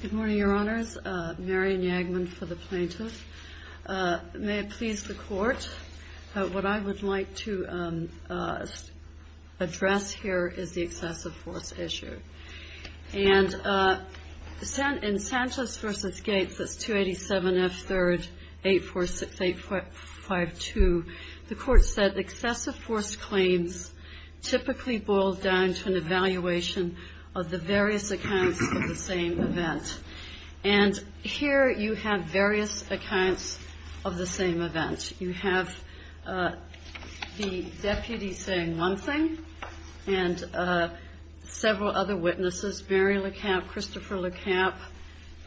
Good morning, Your Honors. Marion Yagman for the Plaintiffs. May it please the Court, what I would like to address here is the excessive force issue. And in Sanchez v. Gates, that's 287F3-8452, the Court said excessive force claims typically boil down to an evaluation of the various accounts of the same event. And here you have various accounts of the same event. You have the deputy saying one thing and several other witnesses, Barry LeCamp, Christopher LeCamp,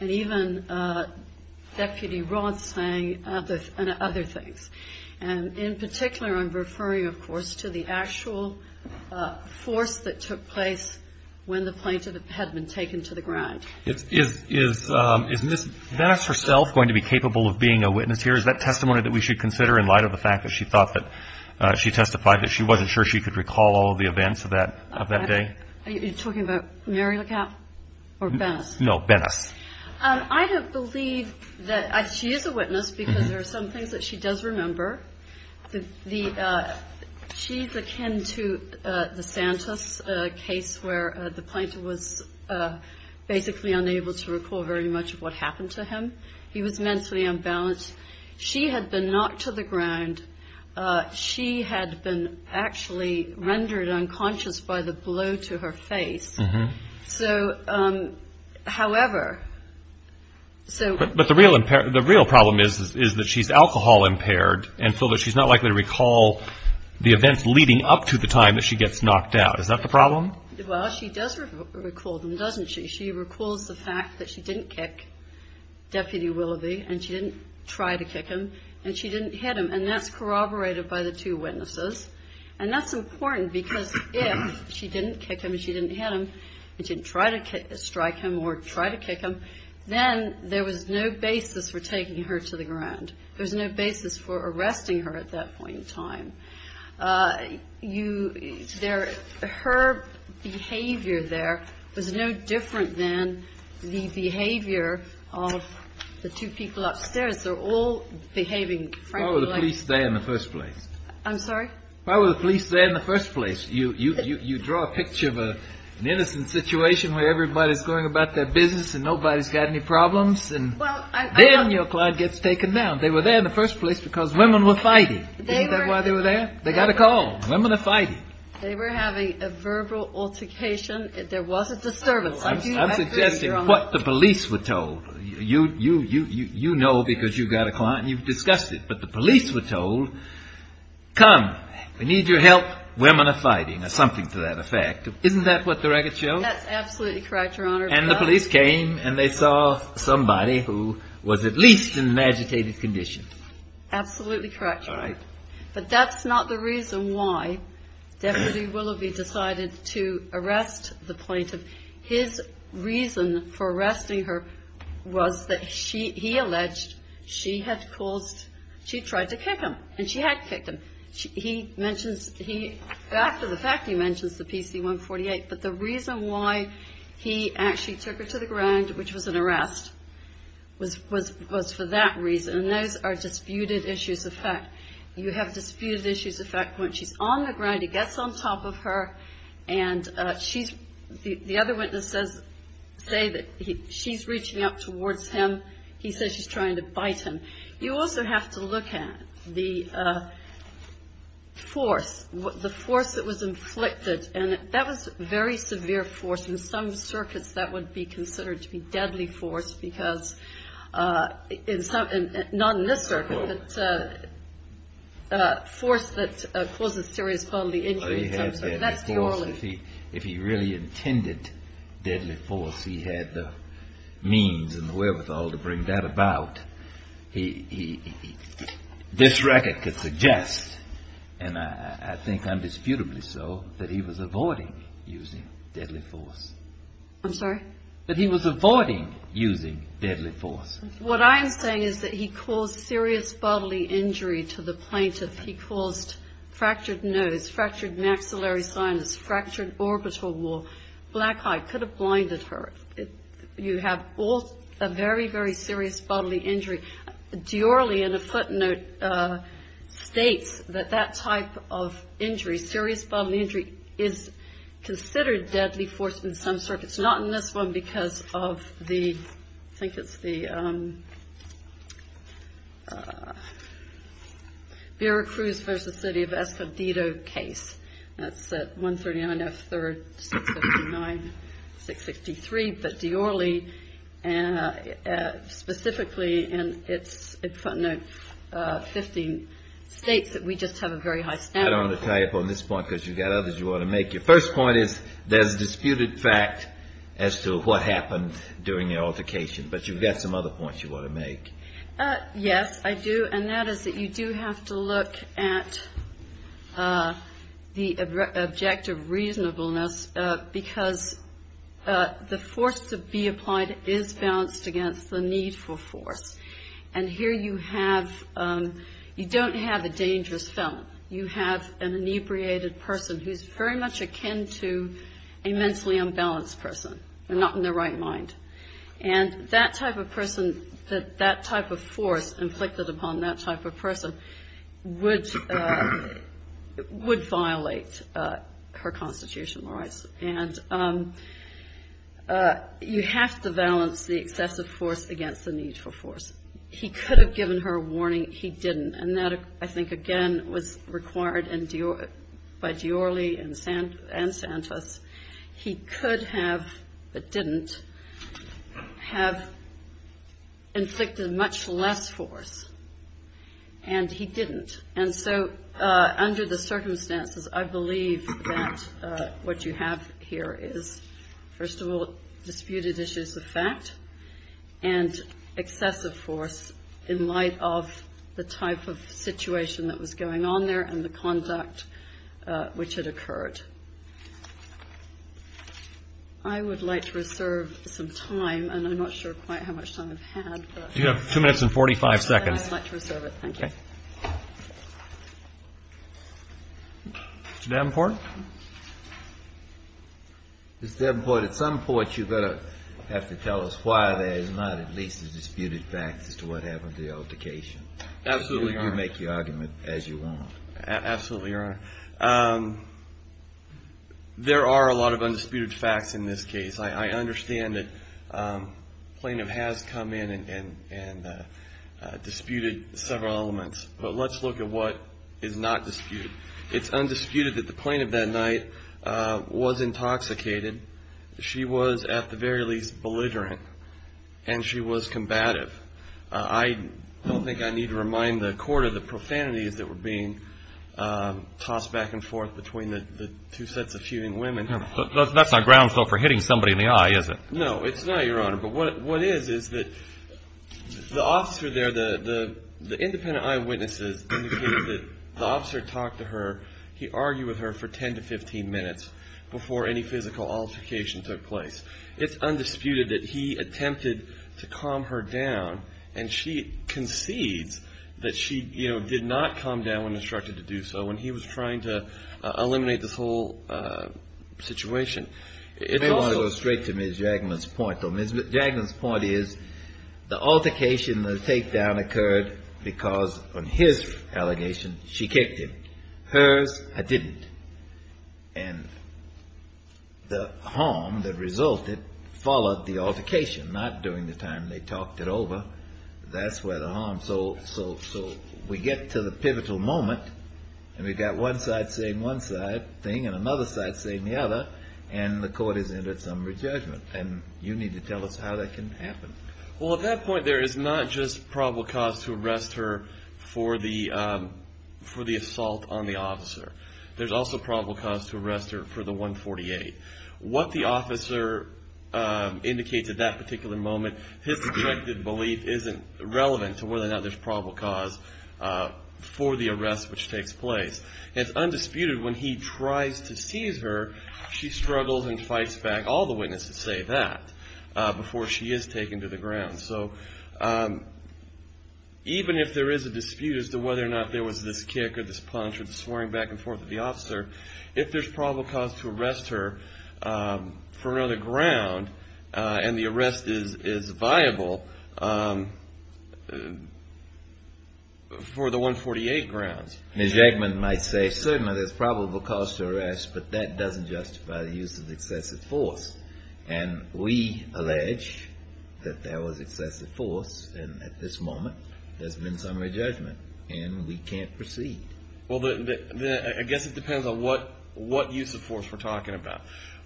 and even Deputy Roth saying other things. And in particular I'm referring, of course, to the actual force that took place when the plaintiff had been taken to the ground. Is Ms. Bennis herself going to be capable of being a witness here? Is that testimony that we should consider in light of the fact that she thought that she testified that she wasn't sure she could recall all of the events of that day? Are you talking about Mary LeCamp or Bennis? No, Bennis. I don't believe that she is a witness because there are some things that she does remember. She's akin to the Santos case where the plaintiff was basically unable to recall very much of what happened to him. He was mentally unbalanced. She had been knocked to the ground. She had been actually rendered unconscious by the blow to her face. But the real problem is that she's alcohol impaired and so that she's not likely to recall the events leading up to the time that she gets knocked out. Is that the problem? Well, she does recall them, doesn't she? She recalls the fact that she didn't kick Deputy Willoughby and she didn't try to kick him and she didn't hit him. And that's corroborated by the two witnesses. And that's important because if she didn't kick him and she didn't hit him and didn't try to strike him or try to kick him, then there was no basis for taking her to the ground. There's no basis for arresting her at that point in time. Her behavior there was no different than the behavior of the two people upstairs. Why were the police there in the first place? I'm sorry? Why were the police there in the first place? You draw a picture of an innocent situation where everybody's going about their business and nobody's got any problems and then your client gets taken down. They were there in the first place because women were fighting. Isn't that why they were there? They got a call. Women are fighting. They were having a verbal altercation. There was a disturbance. I'm suggesting what the police were told. You know because you've got a client and you've discussed it, but the police were told, come, we need your help. Women are fighting or something to that effect. Isn't that what the records show? That's absolutely correct, Your Honor. And the police came and they saw somebody who was at least in an agitated condition. Absolutely correct, Your Honor. But that's not the reason why Deputy Willoughby decided to arrest the plaintiff. His reason for arresting her was that he alleged she had caused, she tried to kick him and she had kicked him. He mentions, after the fact, he mentions the PC-148, but the reason why he actually took her to the ground, which was an arrest, was for that reason. And those are disputed issues of fact. You have disputed issues of fact. When she's on the ground, he gets on top of her and she's, the other witnesses say that she's reaching up towards him. He says she's trying to bite him. You also have to look at the force, the force that was inflicted. And that was very severe force. In some circuits that would be considered to be deadly force because in some, not in this circuit, but force that causes serious bodily injury. If he really intended deadly force, he had the means and the wherewithal to bring that about. He, this record could suggest, and I think undisputably so, that he was avoiding using deadly force. I'm sorry? That he was avoiding using deadly force. What I'm saying is that he caused serious bodily injury to the plaintiff. He caused fractured nose, fractured maxillary sinus, fractured orbital wall, black eye, could have blinded her. You have both a very, very serious bodily injury. Diorly in a footnote states that that type of injury, serious bodily injury, is considered deadly force in some circuits. It's not in this one because of the, I think it's the Vera Cruz v. City of Escondido case. That's at 139 F. 3rd, 659-663. But Diorly specifically in its footnote states that we just have a very high standard. I don't want to tie up on this point because you've got others you want to make. Your first point is there's disputed fact as to what happened during the altercation. But you've got some other points you want to make. Yes, I do. And that is that you do have to look at the objective reasonableness because the force to be applied is balanced against the need for force. And here you have, you don't have a dangerous felon. You have an inebriated person who's very much akin to a mentally unbalanced person, not in the right mind. And that type of person, that type of force inflicted upon that type of person would violate her constitutional rights. And you have to balance the excessive force against the need for force. He could have given her a warning. He didn't. And that, I think, again, was required by Diorly and Santos. He could have, but didn't, have inflicted much less force. And he didn't. And so under the circumstances, I believe that what you have here is, first of all, disputed issues of fact and excessive force in light of the type of situation that was going on there and the conduct which had occurred. I would like to reserve some time, and I'm not sure quite how much time I've had. You have two minutes and 45 seconds. I'd like to reserve it. Thank you. Mr. Davenport? Mr. Davenport, at some point you're going to have to tell us why there is not at least a disputed fact as to what happened to the altercation. Absolutely, Your Honor. You can make your argument as you want. Absolutely, Your Honor. There are a lot of undisputed facts in this case. I understand that plaintiff has come in and disputed several elements. But let's look at what is not disputed. It's undisputed that the plaintiff that night was intoxicated. She was at the very least belligerent, and she was combative. I don't think I need to remind the court of the profanities that were being tossed back and forth between the two sets of feuding women. That's not grounds though for hitting somebody in the eye, is it? No, it's not, Your Honor. But what is is that the officer there, the independent eyewitnesses indicated that the officer talked to her. He argued with her for 10 to 15 minutes before any physical altercation took place. It's undisputed that he attempted to calm her down, and she concedes that she did not calm down when instructed to do so, and he was trying to eliminate this whole situation. If you want to go straight to Ms. Jagman's point, though, Ms. Jagman's point is the altercation, the takedown occurred because, on his allegation, she kicked him. Hers, I didn't. And the harm that resulted followed the altercation, not during the time they talked it over. That's where the harm. So we get to the pivotal moment, and we've got one side saying one side thing and another side saying the other, and the court has entered some re-judgment, and you need to tell us how that can happen. Well, at that point, there is not just probable cause to arrest her for the assault on the officer. There's also probable cause to arrest her for the 148. What the officer indicates at that particular moment, his objective belief, isn't relevant to whether or not there's probable cause for the arrest which takes place. It's undisputed when he tries to seize her, she struggles and fights back. All the witnesses say that before she is taken to the ground. So even if there is a dispute as to whether or not there was this kick or this punch or the swearing back and forth of the officer, if there's probable cause to arrest her for another ground, and the arrest is viable for the 148 grounds. Mr. Eggman might say certainly there's probable cause to arrest, but that doesn't justify the use of excessive force. And we allege that there was excessive force, and at this moment, there's been summary judgment, and we can't proceed. Well, I guess it depends on what use of force we're talking about.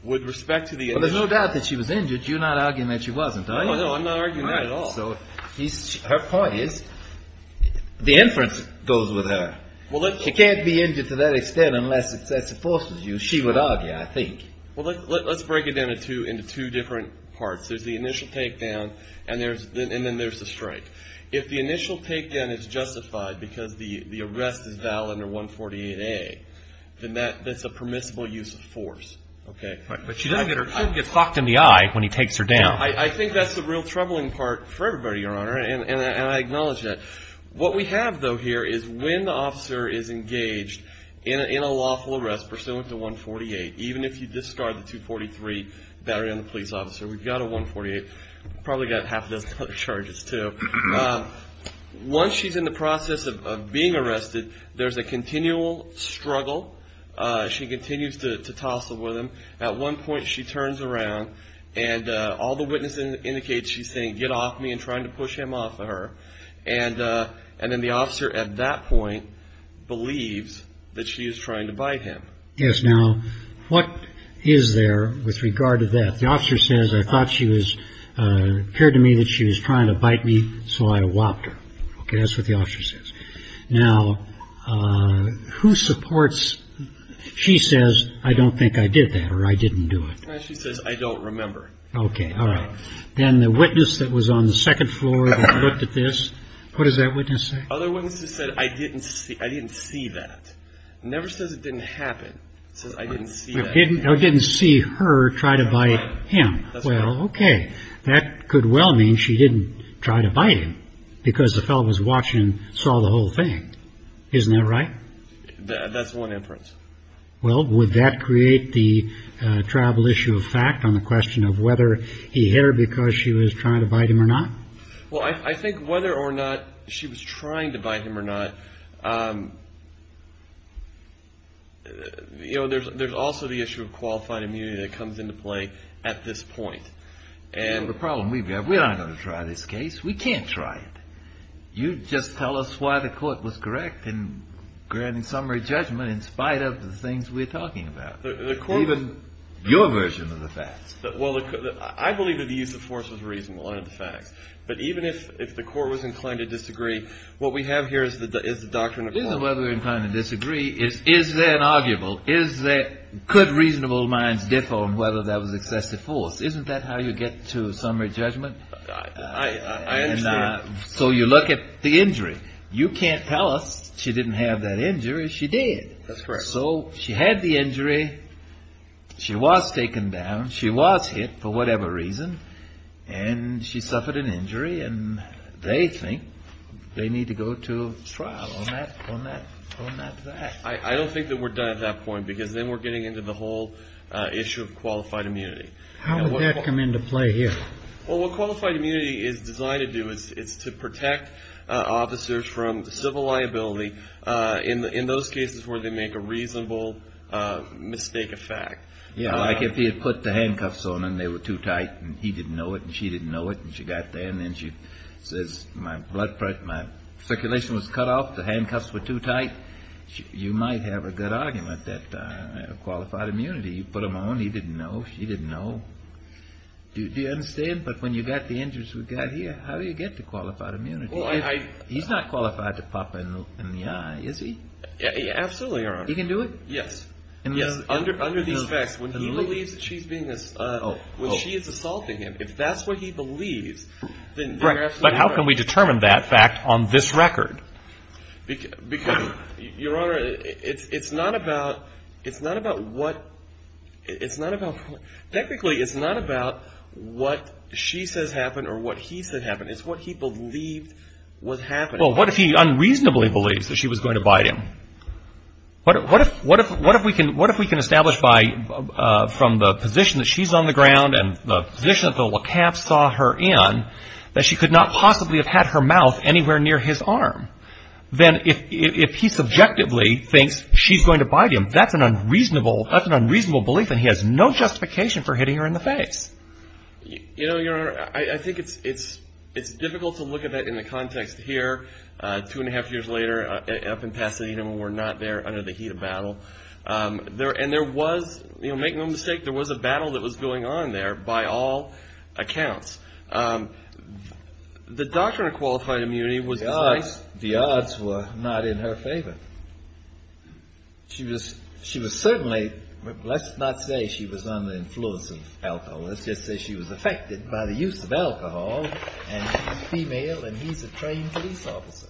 Well, there's no doubt that she was injured. You're not arguing that she wasn't, are you? No, I'm not arguing that at all. So her point is, the inference goes with her. She can't be injured to that extent unless excessive force was used. She would argue, I think. Well, let's break it down into two different parts. There's the initial takedown, and then there's the strike. If the initial takedown is justified because the arrest is valid under 148A, then that's a permissible use of force. But she doesn't get her foot get clocked in the eye when he takes her down. I think that's the real troubling part for everybody, Your Honor, and I acknowledge that. What we have, though, here is when the officer is engaged in a lawful arrest pursuant to 148, even if you discard the 243 battery on the police officer, we've got a 148. We've probably got half a dozen other charges, too. Once she's in the process of being arrested, there's a continual struggle. She continues to tussle with him. At one point, she turns around, and all the witnesses indicate she's saying, get off me and trying to push him off of her. And then the officer at that point believes that she is trying to bite him. Yes. Now, what is there with regard to that? The officer says, I thought she was, it appeared to me that she was trying to bite me, so I whopped her. Okay, that's what the officer says. Now, who supports, she says, I don't think I did that or I didn't do it. She says, I don't remember. Okay, all right. Then the witness that was on the second floor that looked at this, what does that witness say? Other witnesses said, I didn't see that. It never says it didn't happen. It says, I didn't see that. Well, okay. That could well mean she didn't try to bite him because the fellow was watching and saw the whole thing. Isn't that right? That's one inference. Well, would that create the travel issue of fact on the question of whether he hit her because she was trying to bite him or not? Well, I think whether or not she was trying to bite him or not, there's also the issue of qualified immunity that comes into play at this point. The problem we have, we're not going to try this case. We can't try it. You just tell us why the court was correct in granting summary judgment in spite of the things we're talking about, even your version of the facts. Well, I believe that the use of force was reasonable out of the facts, but even if the court was inclined to disagree, what we have here is the doctrine of force. The reason why we're inclined to disagree is, is there an arguable, could reasonable minds differ on whether that was excessive force? Isn't that how you get to summary judgment? I understand. So you look at the injury. You can't tell us she didn't have that injury. She did. That's correct. So she had the injury. She was taken down. She was hit for whatever reason, and she suffered an injury, and they think they need to go to trial on that fact. I don't think that we're done at that point because then we're getting into the whole issue of qualified immunity. How would that come into play here? Well, what qualified immunity is designed to do is it's to protect officers from civil liability in those cases where they make a reasonable mistake of fact. Yeah, like if he had put the handcuffs on her and they were too tight and he didn't know it and she didn't know it and she got there and then she says my circulation was cut off, the handcuffs were too tight, you might have a good argument that qualified immunity. You put them on, he didn't know, she didn't know. Do you understand? But when you've got the injuries we've got here, how do you get to qualified immunity? He's not qualified to pop in the eye, is he? Absolutely, Your Honor. He can do it? Yes. Yes, under these facts, when he believes that she's being assaulted, when she is assaulting him, if that's what he believes, then you're absolutely right. But how can we determine that fact on this record? Because, Your Honor, it's not about what, it's not about, technically it's not about what she says happened or what he said happened. It's what he believed was happening. Well, what if he unreasonably believes that she was going to bite him? What if we can establish by, from the position that she's on the ground and the position that the WCAF saw her in, that she could not possibly have had her mouth anywhere near his arm? Then if he subjectively thinks she's going to bite him, that's an unreasonable belief and he has no justification for hitting her in the face. You know, Your Honor, I think it's difficult to look at that in the context here, two and a half years later up in Pasadena when we're not there under the heat of battle. And there was, you know, make no mistake, there was a battle that was going on there by all accounts. The doctor in qualified immunity was... The odds were not in her favor. She was, she was certainly, let's not say she was under the influence of alcohol. Let's just say she was affected by the use of alcohol and she's female and he's a trained police officer.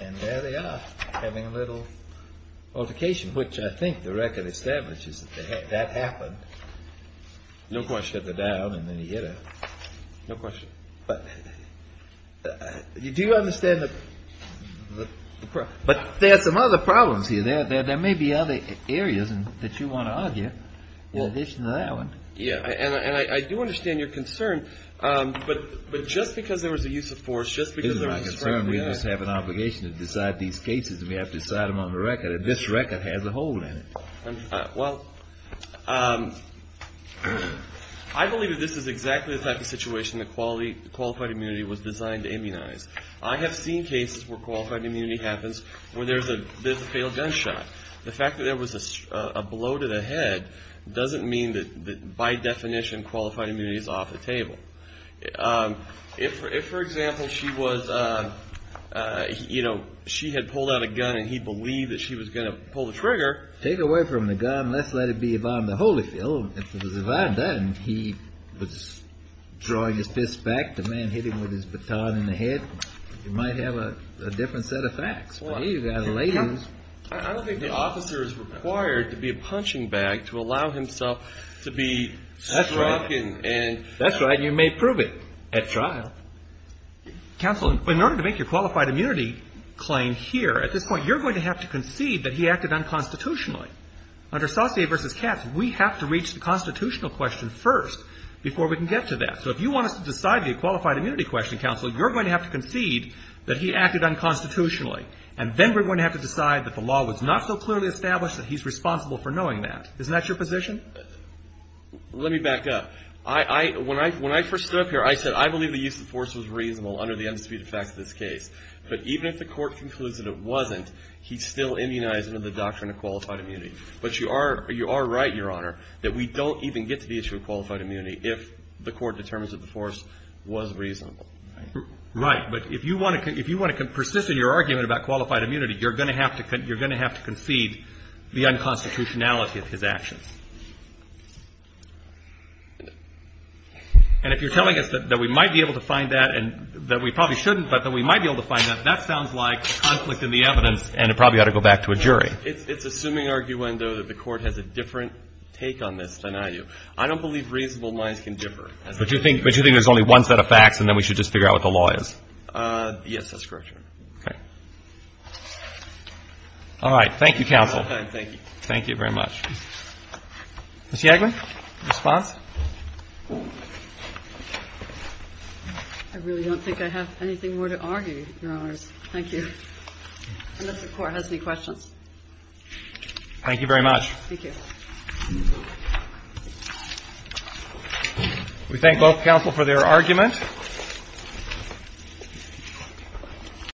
And there they are having a little altercation, which I think the record establishes that that happened. No question. He took her down and then he hit her. No question. But do you understand the... But there are some other problems here. There may be other areas that you want to argue in addition to that one. Yeah, and I do understand your concern. But just because there was a use of force, just because there was a use of force... This is my concern. We just have an obligation to decide these cases and we have to decide them on the record. And this record has a hole in it. Well, I believe that this is exactly the type of situation that qualified immunity was designed to immunize. I have seen cases where qualified immunity happens where there's a failed gunshot. The fact that there was a blow to the head doesn't mean that by definition qualified immunity is off the table. If, for example, she was, you know, she had pulled out a gun and he believed that she was going to pull the trigger... Take away from the gun, let's let it be Yvonne the Holyfield. Then he was drawing his fist back, the man hit him with his baton in the head. You might have a different set of facts. I don't think the officer is required to be a punching bag to allow himself to be struck and... That's right. You may prove it at trial. Counsel, in order to make your qualified immunity claim here, at this point, you're going to have to concede that he acted unconstitutionally. Under Saucier v. Katz, we have to reach the constitutional question first before we can get to that. So if you want us to decide the qualified immunity question, counsel, you're going to have to concede that he acted unconstitutionally. And then we're going to have to decide that the law was not so clearly established that he's responsible for knowing that. Isn't that your position? Let me back up. When I first stood up here, I said I believe the use of force was reasonable under the undisputed facts of this case. But even if the court concludes that it wasn't, he's still immunized under the doctrine of qualified immunity. But you are right, Your Honor, that we don't even get to the issue of qualified immunity if the court determines that the force was reasonable. Right. But if you want to persist in your argument about qualified immunity, you're going to have to concede the unconstitutionality of his actions. And if you're telling us that we might be able to find that and that we probably shouldn't, but that we might be able to find that, that sounds like conflict in the evidence and it probably ought to go back to a jury. It's assuming, arguendo, that the court has a different take on this than I do. I don't believe reasonable minds can differ. But you think there's only one set of facts and then we should just figure out what the law is? Yes, that's correct, Your Honor. Okay. All right. Thank you, counsel. Thank you. Thank you very much. Ms. Yagler, response? I really don't think I have anything more to argue, Your Honors. Thank you. Unless the Court has any questions. Thank you very much. Thank you. We thank both counsel for their argument.